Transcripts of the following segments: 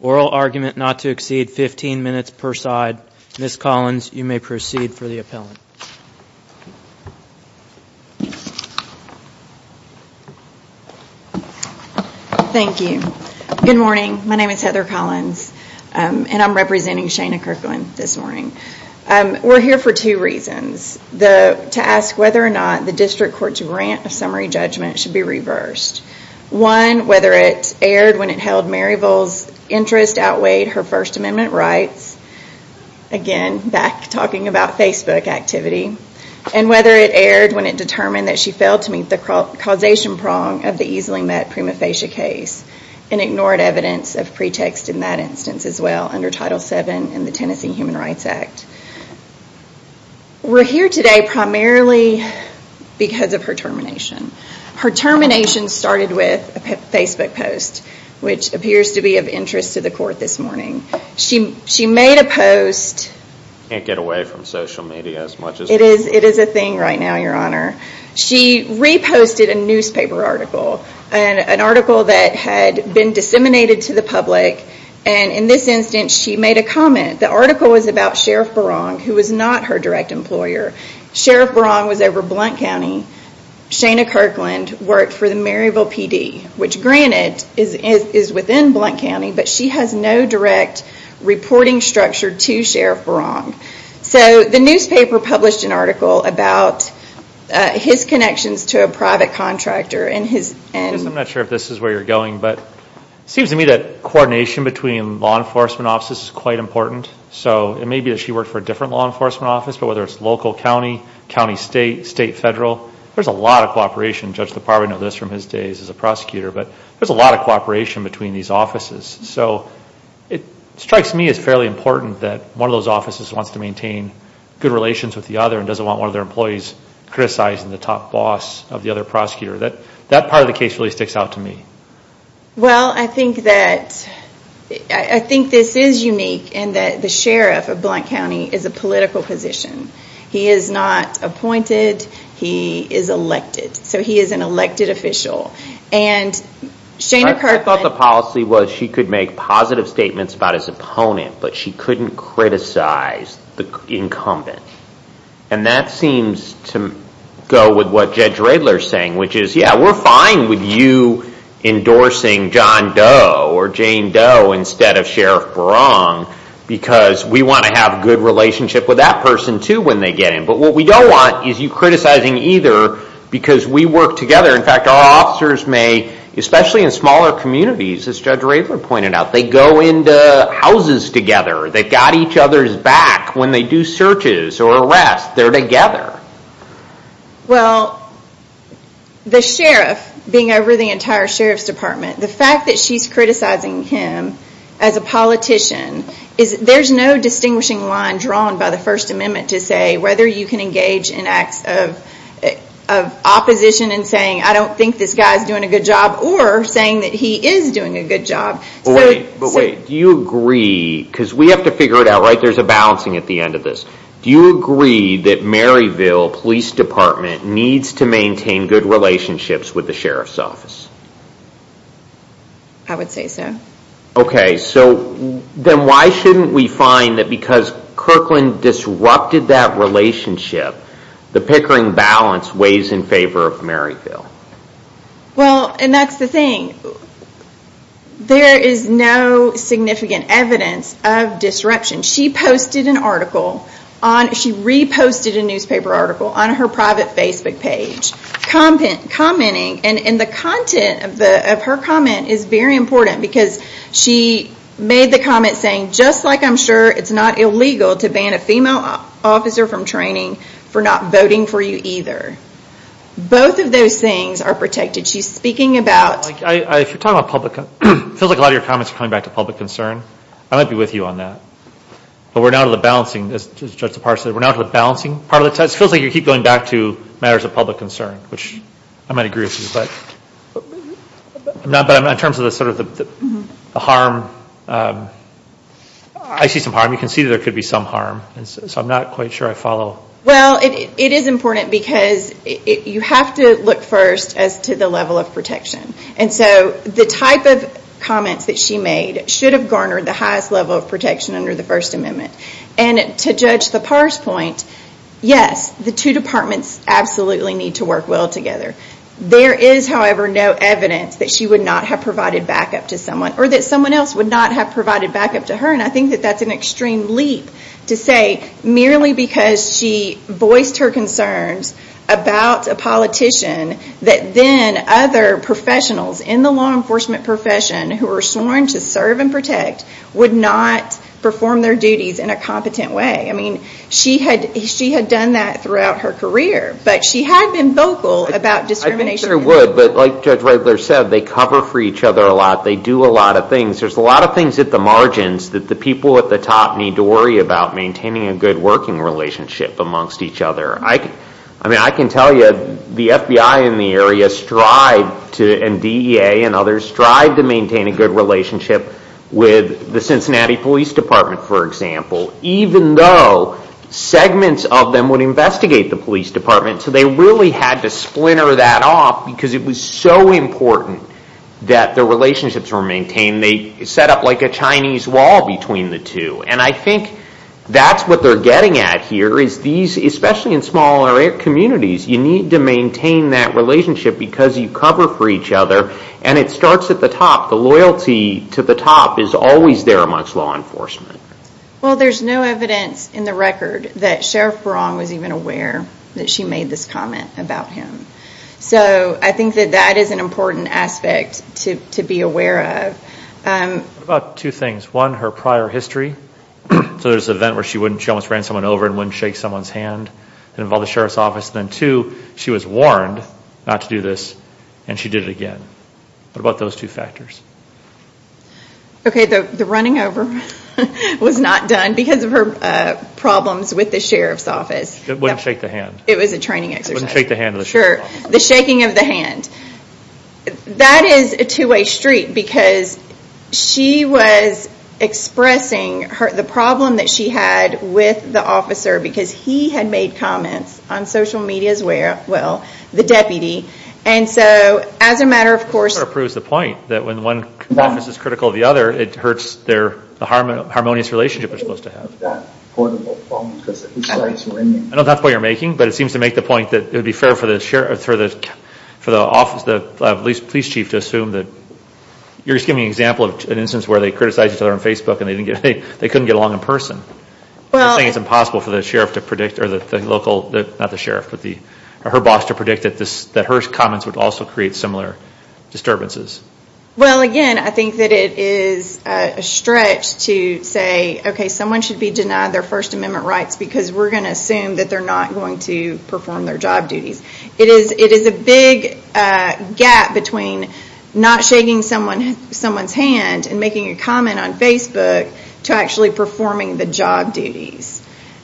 ORAL ARGUMENT NOT TO EXCEED 15 MINUTES PER SIDE Ms. Collins, you may proceed for the appellant. Thank you. Good morning. My name is Heather Collins and I'm representing Shaina Kirkland this morning. We're here for two reasons. To ask whether or not the district court's grant of summary judgment should be reversed. One, whether it erred when it held Maryville's interest outweighed her First Amendment rights. Again, back talking about Facebook activity. And whether it erred when it determined that she failed to meet the causation prong of the easily met prima facie case and ignored evidence of pretext in that instance as well under Title VII in the Tennessee Human Rights Act. We're here today primarily because of her termination. Her termination started with a Facebook post, which appears to be of interest to the court this morning. She made a post. Can't get away from social media as much as before. It is a thing right now, your honor. She reposted a newspaper article. An article that had been disseminated to the public. In this instance, she made a comment. The article was about Sheriff Barong, who was not her direct employer. Sheriff Barong was over Blount County. Shaina Kirkland worked for the Maryville PD, which granted is within Blount County, but she has no direct reporting structure to Sheriff Barong. The newspaper published an article about his connections to a private contractor and his... I don't know where you're going, but it seems to me that coordination between law enforcement offices is quite important. It may be that she worked for a different law enforcement office, but whether it's local county, county state, state federal, there's a lot of cooperation. Judge LaParva knows this from his days as a prosecutor, but there's a lot of cooperation between these offices. It strikes me as fairly important that one of those offices wants to maintain good relations with the other and doesn't want one of their employees criticizing the top boss of the other prosecutor. That part of the case really sticks out to me. I think this is unique in that the sheriff of Blount County is a political position. He is not appointed. He is elected. He is an elected official. Shaina Kirkland... I thought the policy was she could make positive statements about his opponent, but she couldn't criticize the incumbent. That seems to go with what Judge Radler is saying, which is yeah, we're fine with you endorsing John Doe or Jane Doe instead of Sheriff Barong because we want to have a good relationship with that person too when they get in, but what we don't want is you criticizing either because we work together. In fact, our officers may, especially in smaller communities, as Judge Radler pointed out, they go into houses together. They've got each other's back when they do searches or arrests. They're together. Well, the sheriff being over the entire sheriff's department, the fact that she's criticizing him as a politician, there's no distinguishing line drawn by the First Amendment to say whether you can engage in acts of opposition and saying, I don't think this guy is doing a good job or saying that he is doing a good job. But wait, do you agree, because we have to figure it out, right? There's a balancing at the end of this. Do you agree that Maryville Police Department needs to maintain good relationships with the sheriff's office? I would say so. Okay, so then why shouldn't we find that because Kirkland disrupted that relationship, the Pickering balance weighs in favor of Maryville? Well, and that's the thing. There is no significant evidence of disruption. She posted an article, she reposted a newspaper article on her private Facebook page commenting, and the content of her comment is very important because she made the comment saying, just like I'm sure it's not illegal to ban a female officer from training for not voting for you either. Both of those things are protected. She's speaking about... If you're talking about public, it feels like a lot of your comments are coming back to public concern. I might be with you on that. But we're now to the balancing, as Judge DePars said, we're now to the balancing part of the test. It feels like you keep going back to matters of public concern, which I might agree with you, but in terms of the harm, I see some harm. You can see that there could be some harm, so I'm not quite sure I follow. Well, it is important because you have to look first as to the level of protection. The type of comments that she made should have garnered the highest level of protection under the First Amendment. To Judge DePars' point, yes, the two departments absolutely need to work well together. There is, however, no evidence that she would not have provided backup to someone, or that someone else would not have provided backup to her, and I think that that's an extreme leap to say merely because she voiced her concerns about a politician that then other professionals in the law enforcement profession who were sworn to serve and protect would not perform their duties in a competent way. She had done that throughout her career, but she had been vocal about discrimination. I think she would, but like Judge Rogler said, they cover for each other a lot. They do a lot of things. There's a lot of things at the margins that the people at the top need to worry about maintaining a good working relationship amongst each other. I can tell you the FBI in the area and DEA and others strive to maintain a good relationship with the Cincinnati Police Department, for example, even though segments of them would investigate the police department. They really had to splinter that off because it was so important that the relationships were maintained. They set up like a Chinese wall between the two, and I think that's what they're getting at here is these, especially in smaller communities, you need to maintain that relationship because you cover for each other, and it starts at the top. The loyalty to the top is always there amongst law enforcement. Well, there's no evidence in the record that Sheriff Barong was even aware that she made this comment about him, so I think that that is an important aspect to be aware of. I think about two things. One, her prior history, so there's an event where she almost ran someone over and wouldn't shake someone's hand. It involved the Sheriff's Office, and then two, she was warned not to do this, and she did it again. What about those two factors? Okay, the running over was not done because of her problems with the Sheriff's Office. It wouldn't shake the hand. It was a training exercise. It wouldn't shake the hand of the Sheriff's Office. Sure, the shaking of the hand. That is a two-way street because she was expressing the problem that she had with the officer because he had made comments on social media as well, the deputy, and so as a matter of course- That sort of proves the point that when one office is critical of the other, it hurts their harmonious relationship they're supposed to have. I don't think that's a point you're making, but it seems to make the point that it would be for the police chief to assume that... You're just giving an example of an instance where they criticized each other on Facebook and they couldn't get along in person. Well- I'm saying it's impossible for the local, not the sheriff, but her boss to predict that her comments would also create similar disturbances. Well, again, I think that it is a stretch to say, okay, someone should be denied their First Amendment rights because we're going to assume that they're not going to perform their job duties. It is a big gap between not shaking someone's hand and making a comment on Facebook to actually performing the job duties.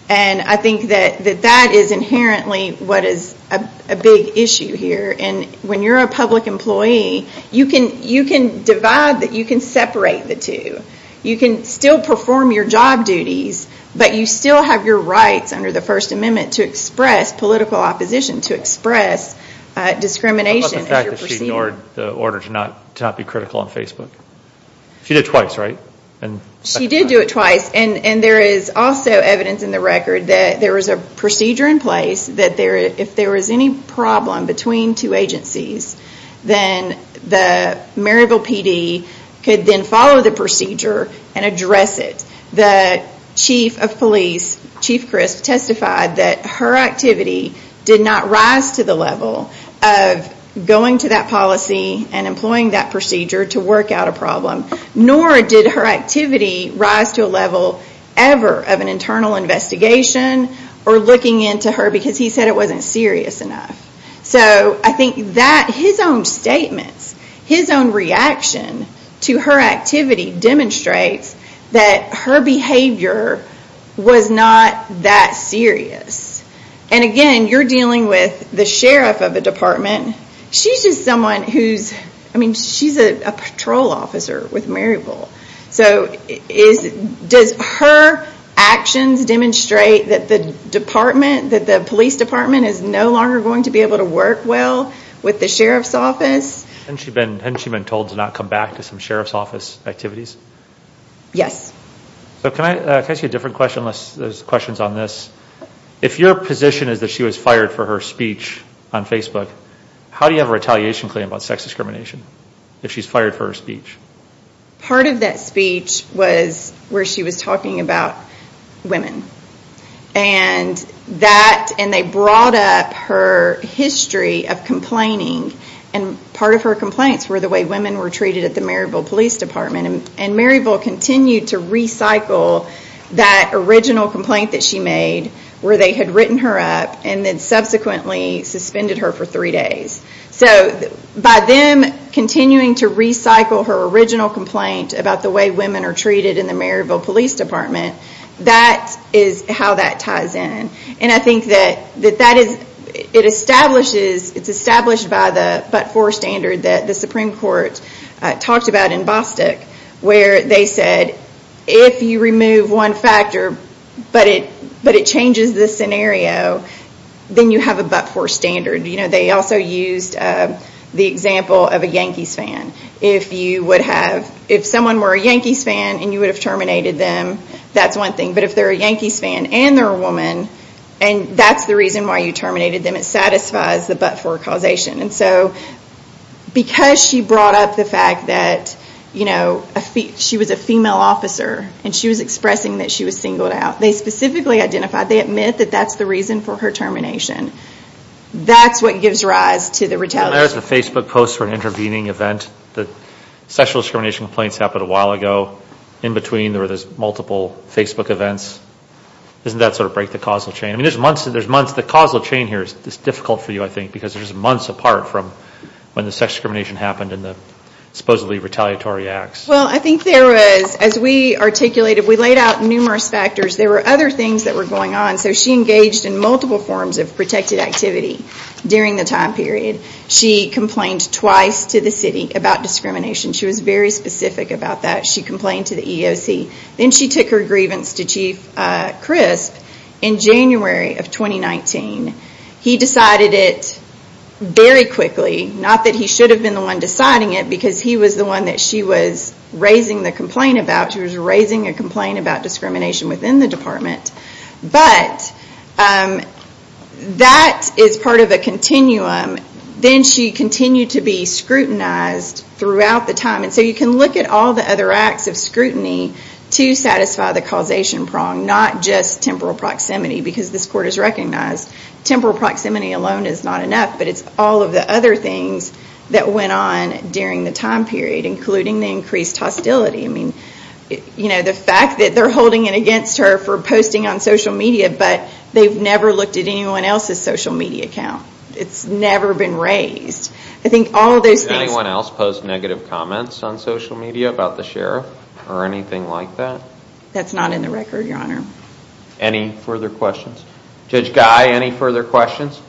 I think that that is inherently what is a big issue here. When you're a public employee, you can divide, you can separate the two. You can still perform your job duties, but you still have your rights under the First Amendment to express political opposition, to express discrimination as you're proceeding. What about the fact that she ignored the order to not be critical on Facebook? She did it twice, right? She did do it twice. There is also evidence in the record that there was a procedure in place that if there was any problem between two agencies, then the marital PD could then ignore the procedure and address it. The chief of police, Chief Crisp, testified that her activity did not rise to the level of going to that policy and employing that procedure to work out a problem, nor did her activity rise to a level ever of an internal investigation or looking into her because he said it wasn't serious enough. I think his own statements, his own reaction to her activity demonstrates that her behavior was not that serious. Again, you're dealing with the sheriff of a department. She's just someone who's a patrol officer with Maryville. Does her actions demonstrate that the police department is no longer going to be able to work well with the sheriff's office? Hasn't she been told to not come back to some sheriff's office activities? Yes. Can I ask you a different question? There's questions on this. If your position is that she was fired for her speech on Facebook, how do you have a retaliation claim about sex discrimination if she's fired for her speech? Part of that speech was where she was talking about women. They brought up her history of complaining. Part of her complaints were the way women were treated at the Maryville Police Department. Maryville continued to recycle that original complaint that she made where they had written her up and then subsequently suspended her for three days. By them continuing to recycle her original complaint about the way women are treated in the Maryville Police Department, that is how that ties in. It's established by the but-for standard that the Supreme Court talked about in Bostick where they said, if you remove one factor but it changes the scenario, then you have a but-for standard. They also used the example of a Yankees fan. If someone were a Yankees fan and you would have terminated them, that's one thing. But if they're a Yankees fan and they're a woman, and that's the reason why you terminated them, it satisfies the but-for causation. Because she brought up the fact that she was a female officer and she was expressing that she was singled out, they specifically identified, they admit that that's the reason for her termination. That's what gives rise to the retaliation. There's a Facebook post for an intervening event. The sexual discrimination complaints happened a while ago. In between, there were multiple Facebook events. Doesn't that sort of break the causal chain? I mean, there's months, the causal chain here is difficult for you, I think, because there's months apart from when the sexual discrimination happened and the supposedly retaliatory acts. Well, I think there was, as we articulated, we laid out numerous factors. There were other things that were going on. So she engaged in multiple forms of protected activity during the time period. She complained twice to the city about discrimination. She was very specific about that. She complained to the EOC. Then she took her grievance to Chief Crisp in January of 2019. He decided it very quickly. Not that he should have been the one deciding it, because he was the one that she was raising the complaint about. She was Then she continued to be scrutinized throughout the time. So you can look at all the other acts of scrutiny to satisfy the causation prong, not just temporal proximity, because this court has recognized temporal proximity alone is not enough, but it's all of the other things that went on during the time period, including the increased hostility. The fact that they're holding it against her for posting on social media, but they've never looked at anyone else's social media account. It's never been raised. I think all those things... Did anyone else post negative comments on social media about the sheriff or anything like that? That's not in the record, Your Honor. Any further questions? Judge Guy, any further questions?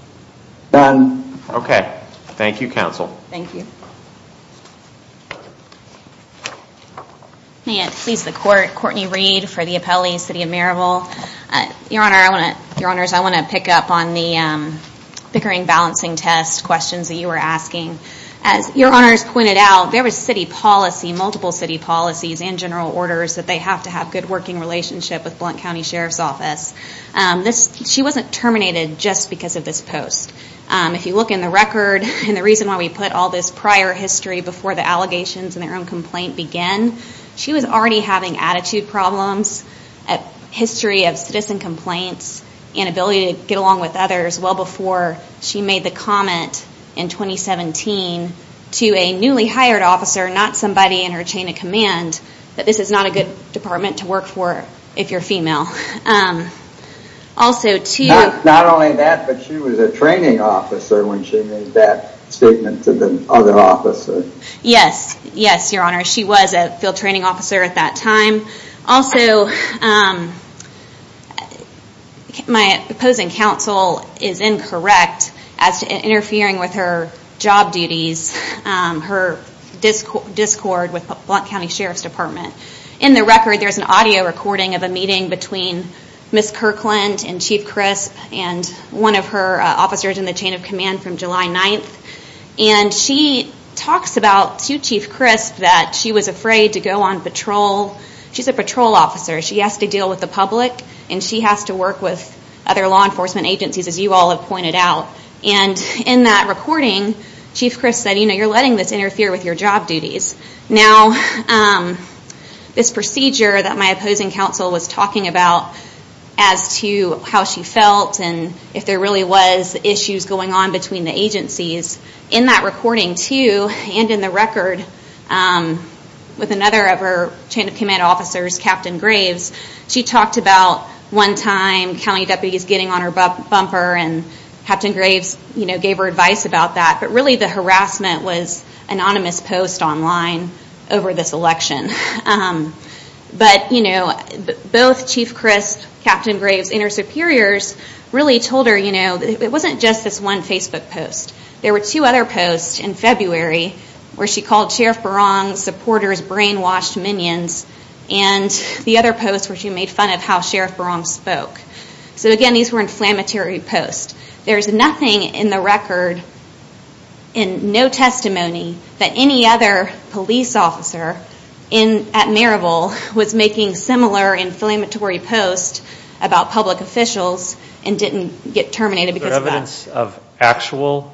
None. Okay. Thank you, counsel. Thank you. May it please the court, Courtney Reed for the appellee, City of Maryville. Your Honor, I want to pick up on the bickering balancing test questions that you were asking. As Your Honor has pointed out, there was city policy, multiple city policies and general orders that they have to have good working relationship with Blount County Sheriff's Office. She wasn't terminated just because of this post. If you look in the record, and the reason why we put all this prior history before the allegations and their own complaint began, she was already having attitude problems, a history of citizen complaints, inability to get along with others well before she made the comment in 2017 to a newly hired officer, not somebody in her chain of command, that this is not a good department to work for if you're female. Also to... Not only that, but she was a training officer when she made that statement to the other officer. Yes, yes, Your Honor. She was a field training officer at that time. Also, my opposing counsel is incorrect as to interfering with her job duties, her discord with Blount County Sheriff's Department. In the record, there's an audio recording of a meeting between Ms. Kirkland and Chief Crisp and one of her officers in the chain of command from July 9th. And she talks about to Chief Crisp that she was afraid to go on patrol. She's a patrol officer. She has to deal with the public and she has to work with other law enforcement agencies as you all have pointed out. And in that recording, Chief Crisp said, you know, you're letting this interfere with your job duties. Now, this procedure that my opposing counsel was talking about as to how she felt and if there really was issues going on between the agencies, in that recording too and in the record with another of her chain of command officers, Captain Graves, she talked about one time county deputies getting on her bumper and Captain Graves gave her advice about that. But really the harassment was anonymous post online over this election. But both Chief It wasn't just this one Facebook post. There were two other posts in February where she called Sheriff Barong's supporters brainwashed minions and the other post where she made fun of how Sheriff Barong spoke. So again, these were inflammatory posts. There's nothing in the record and no testimony that any other police officer at Maryville was making similar post about public officials and didn't get terminated because of that. Is there evidence of actual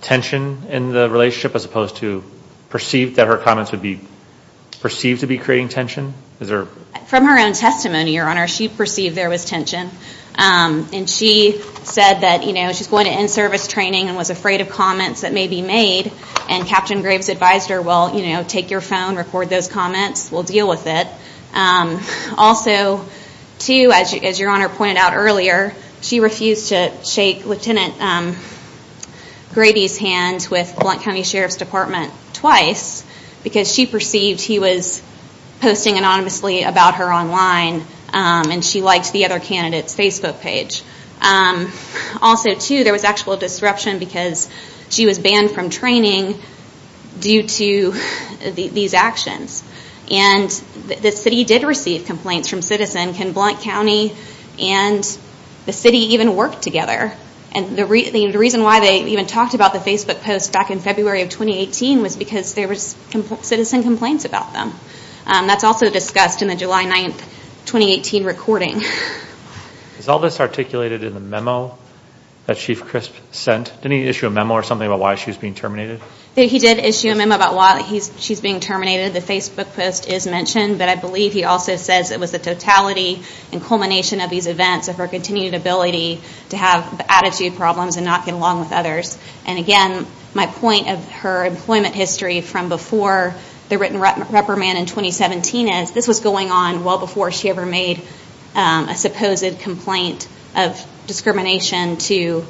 tension in the relationship as opposed to perceived that her comments would be perceived to be creating tension? Is there? From her own testimony, Your Honor, she perceived there was tension. And she said that, you know, she's going to in-service training and was afraid of comments that may be made. And Captain Graves advised her, well, you know, take your phone, record those comments, we'll deal with it. Also, too, as Your Honor pointed out earlier, she refused to shake Lieutenant Grady's hand with Blount County Sheriff's Department twice because she perceived he was posting anonymously about her online and she liked the other candidate's Facebook page. Also, too, there was actual disruption because she was banned from training due to these actions. And the city did receive complaints from citizens. Can Blount County and the city even work together? And the reason why they even talked about the Facebook post back in February of 2018 was because there was citizen complaints about them. That's also discussed in the July 9, 2018 recording. Is all this articulated in the memo that Chief Crisp sent? Didn't he issue a memo or something about why she was being terminated? He did issue a memo about why she's being terminated. The Facebook post is mentioned, but I believe he also says it was the totality and culmination of these events of her continued ability to have attitude problems and not get along with others. And again, my point of her employment history from before the written reprimand in 2017 is this was going on well before she ever made a supposed complaint of discrimination to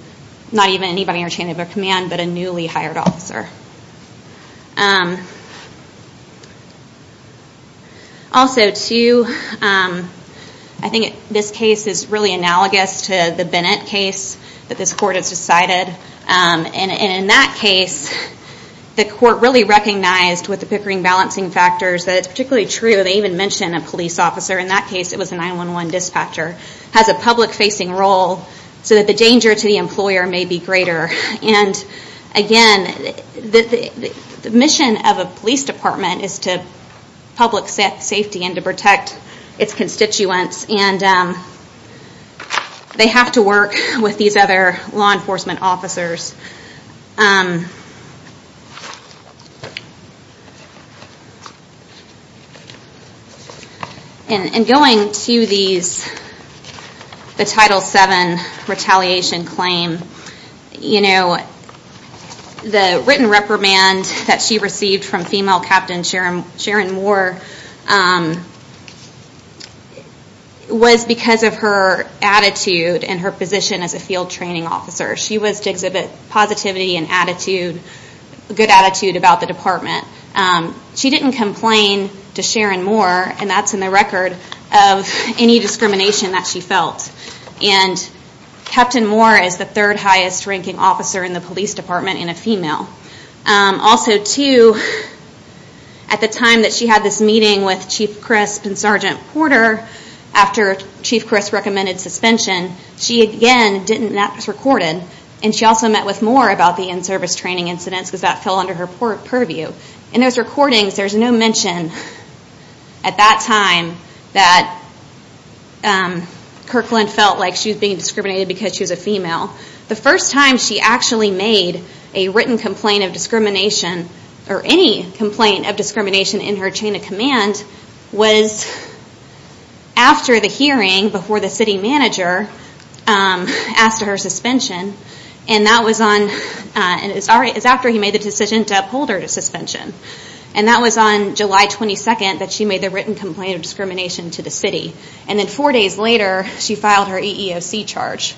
not even anybody in her command but a newly hired officer. Also, too, I think this case is really analogous to the Bennett case that this court has decided. And in that case, the court really recognized with the Pickering balancing factors that it's particularly true that they even mention a police officer. In that case, it was a 911 dispatcher. Has a public facing role so that the danger to the employer may be greater. And again, the mission of a police department is to public safety and to protect its constituents. And they have to work with these other law enforcement officers. And going to the Title VII retaliation claim, the written reprimand that she received from female Captain Sharon Moore was because of her attitude and her position as a field training officer. She was to exhibit positivity and attitude, good attitude about the department. She didn't complain to Sharon Moore and that's in the record of any discrimination that she felt. And Captain Moore is the third highest ranking officer in the police department in a female. Also, too, at the time that she had this meeting with Chief Crisp and Sergeant Porter after Chief Crisp recommended suspension, she again didn't and that was recorded. And she also met with Moore about the in-service training incidents because that fell under her purview. In those recordings, there's no mention at that time that Kirkland felt like she was being discriminated because she was a female. The first time she actually made a written complaint of discrimination or any complaint of discrimination in her chain of command was after the hearing before the city manager um asked her suspension and that was on uh and it's all right it's after he made the decision to uphold her to suspension. And that was on July 22nd that she made the written complaint of discrimination to the city. And then four days later, she filed her EEOC charge.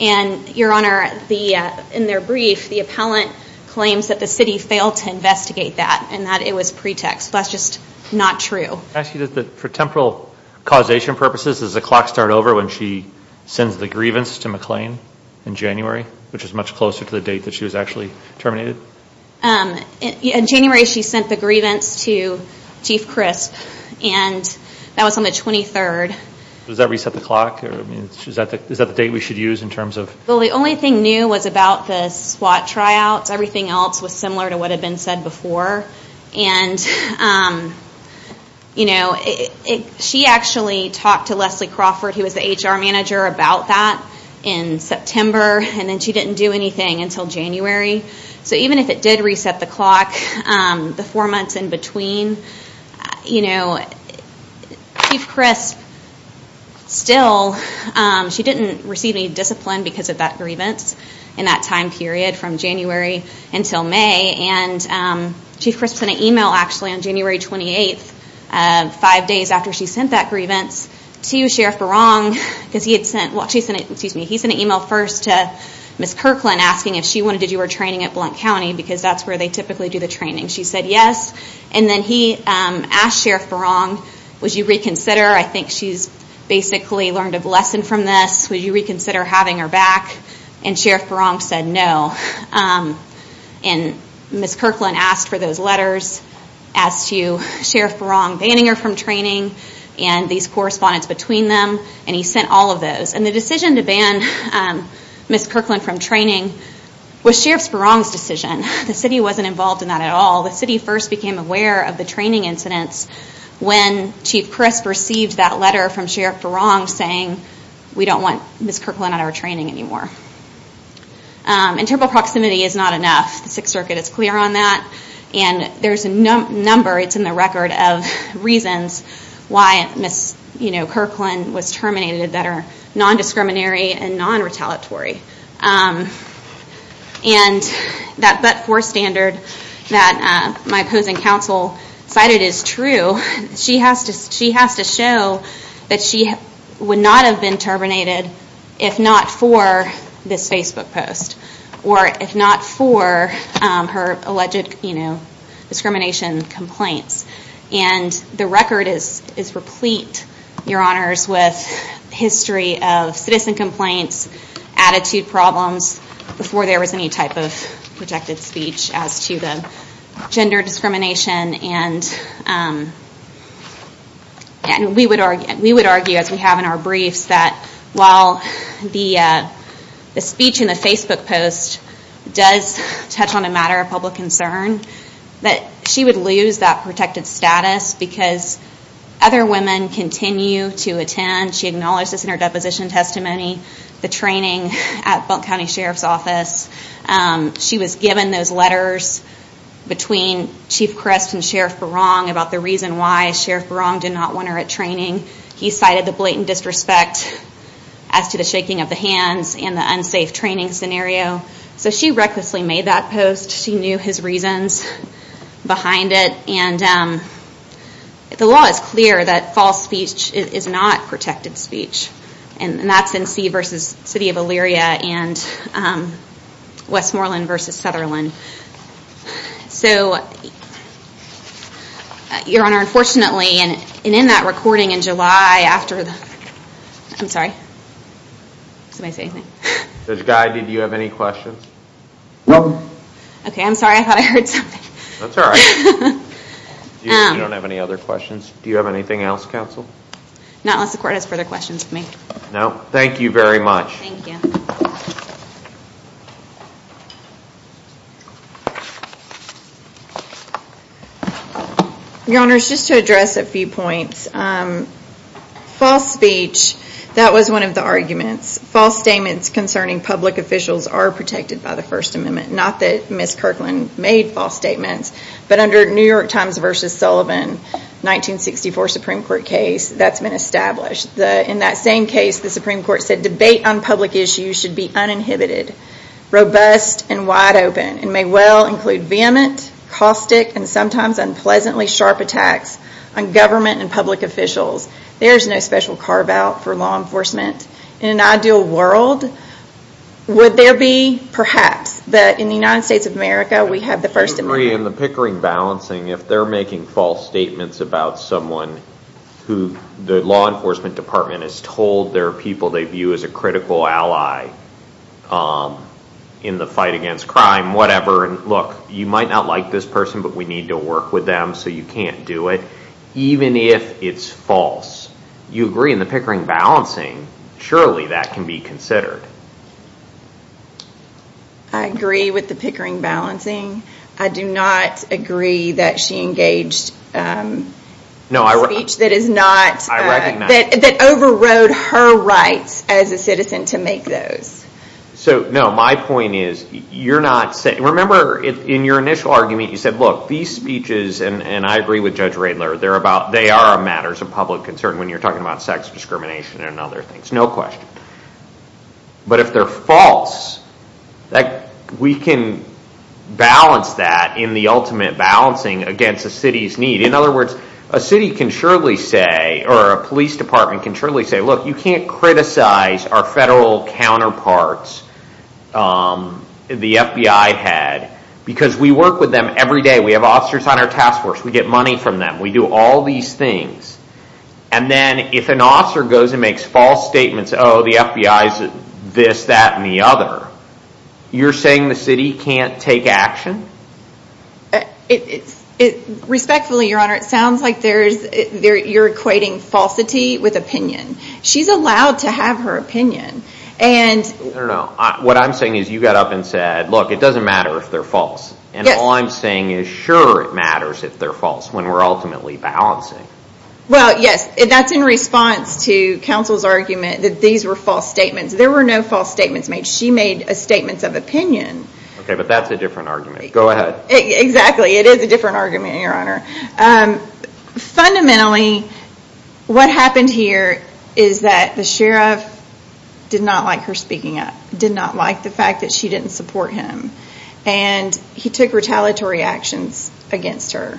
And Your Honor, the uh in their brief, the appellant claims that the city failed to investigate that and that it was pretext. That's just not true. Can I ask you that for temporal causation purposes, does the grievance to McLean in January, which is much closer to the date that she was actually terminated? Um in January, she sent the grievance to Chief Crisp and that was on the 23rd. Does that reset the clock or I mean is that the is that the date we should use in terms of? Well, the only thing new was about the SWAT tryouts. Everything else was similar to what had been said before. And um you know it she actually talked to Leslie Crawford, who was the HR manager, about that in September. And then she didn't do anything until January. So even if it did reset the clock um the four months in between, you know Chief Crisp still um she didn't receive any discipline because of that grievance in that time period from January until May. And um Chief Crisp sent an email actually on January 28th, five days after she sent that grievance to Sheriff Barong because he had sent well she sent excuse me he sent an email first to Miss Kirkland asking if she wanted to do her training at Blount County because that's where they typically do the training. She said yes and then he um asked Sheriff Barong would you reconsider? I think she's basically learned a lesson from this. Would you reconsider having her back? And Sheriff Barong said no. Um and Miss Kirkland asked for those letters as to Sheriff Barong banning her from training and these correspondence between them and he sent all of those. And the decision to ban um Miss Kirkland from training was Sheriff Barong's decision. The city wasn't involved in that at all. The city first became aware of the training incidents when Chief Crisp received that letter from Sheriff Barong saying we don't want Miss Kirkland on our training anymore. Um and terrible proximity is not enough. The Sixth Circuit is clear on that and there's a number it's in the record of reasons why Miss you know Kirkland was terminated that are non-discriminatory and non-retaliatory. Um and that but for standard that uh my opposing counsel cited is true. She has to she has to show that she would not have been terminated if not for this Facebook post or if not for um her alleged you know discrimination complaints. And the record is is replete your honors with history of citizen complaints, attitude problems before there was any type of projected speech as to the gender discrimination and um and we would argue we would argue as we have in our briefs that while the uh the speech in the Facebook post does touch on a matter of public concern that she would lose that protected status because other women continue to attend. She acknowledged this in her deposition testimony, the training at Bunk County Sheriff's Office. She was given those letters between Chief Crest and Sheriff Barong about the reason why Sheriff Barong did not want her at training. He cited the blatant disrespect as to the shaking of the hands and the unsafe training scenario. So she recklessly made that post. She knew his reasons behind it and um the law is clear that protected speech and that's in C versus City of Elyria and um Westmoreland versus Sutherland. So your honor unfortunately and in that recording in July after the I'm sorry did I say anything? Judge Guy did you have any questions? Nope. Okay I'm sorry I thought I heard something. That's all right. You don't have any other questions. Do you have anything else counsel? Not unless the court has further questions for me. No thank you very much. Thank you. Your honors just to address a few points um false speech that was one of the arguments. False statements concerning public officials are protected by the first amendment. Not that Miss Kirkland made false statements but under New York Times versus Sullivan 1964 Supreme Court case that's been established. The in that same case the Supreme Court said debate on public issues should be uninhibited robust and wide open and may well include vehement caustic and sometimes unpleasantly sharp attacks on government and public officials. There's no special carve out for law enforcement. In an ideal world would there be perhaps that in the United about someone who the law enforcement department is told there are people they view as a critical ally um in the fight against crime whatever and look you might not like this person but we need to work with them so you can't do it even if it's false. You agree in the Pickering balancing surely that can be considered. I agree with the Pickering balancing. I do not agree that she engaged um speech that is not uh that over rode her rights as a citizen to make those. So no my point is you're not saying remember in your initial argument you said look these speeches and I agree with Judge Radler they're about they are matters of public concern when you're talking about sex discrimination and other things no question. But if they're false that we can balance that in the ultimate balancing against the city's need. In other words a city can surely say or a police department can surely say look you can't criticize our federal counterparts um the FBI had because we work with them every day we have officers on our task force we get money from them we do all these things and then if an officer goes and makes false statements oh the FBI's this that and the other you're saying the city can't take action? It's it respectfully your honor it sounds like there's there you're equating falsity with opinion she's allowed to have her opinion and I don't know what I'm saying is you got up and said look it doesn't matter if they're false and all I'm saying is sure it matters if they're false when we're in response to counsel's argument that these were false statements there were no false statements made she made a statement of opinion okay but that's a different argument go ahead exactly it is a different argument your honor um fundamentally what happened here is that the sheriff did not like her speaking up did not like the fact that she didn't support him and he took retaliatory actions against her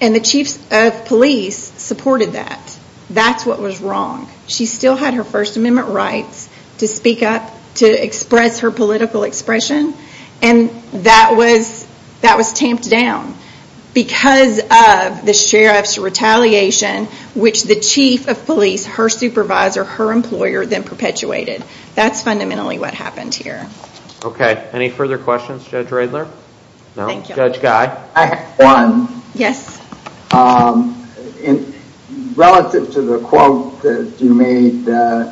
and the chiefs of police supported that that's what was wrong she still had her first amendment rights to speak up to express her political expression and that was that was tamped down because of the sheriff's retaliation which the chief of police her supervisor her employer then perpetuated that's fundamentally what happened here okay any further questions judge radler no thank you judge guy i have one yes um in relative to the quote that you made uh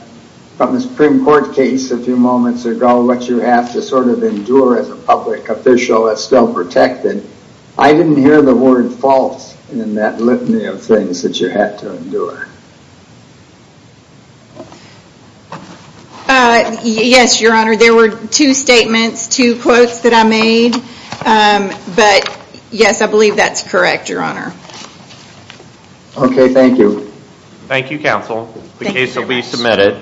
from the supreme court case a few moments ago what you have to sort of endure as a public official that's still protected i didn't hear the word false in that litany of things that you had to endure uh yes your honor there were two statements two quotes that i made um but yes i believe that's correct your honor okay thank you thank you counsel the case will be submitted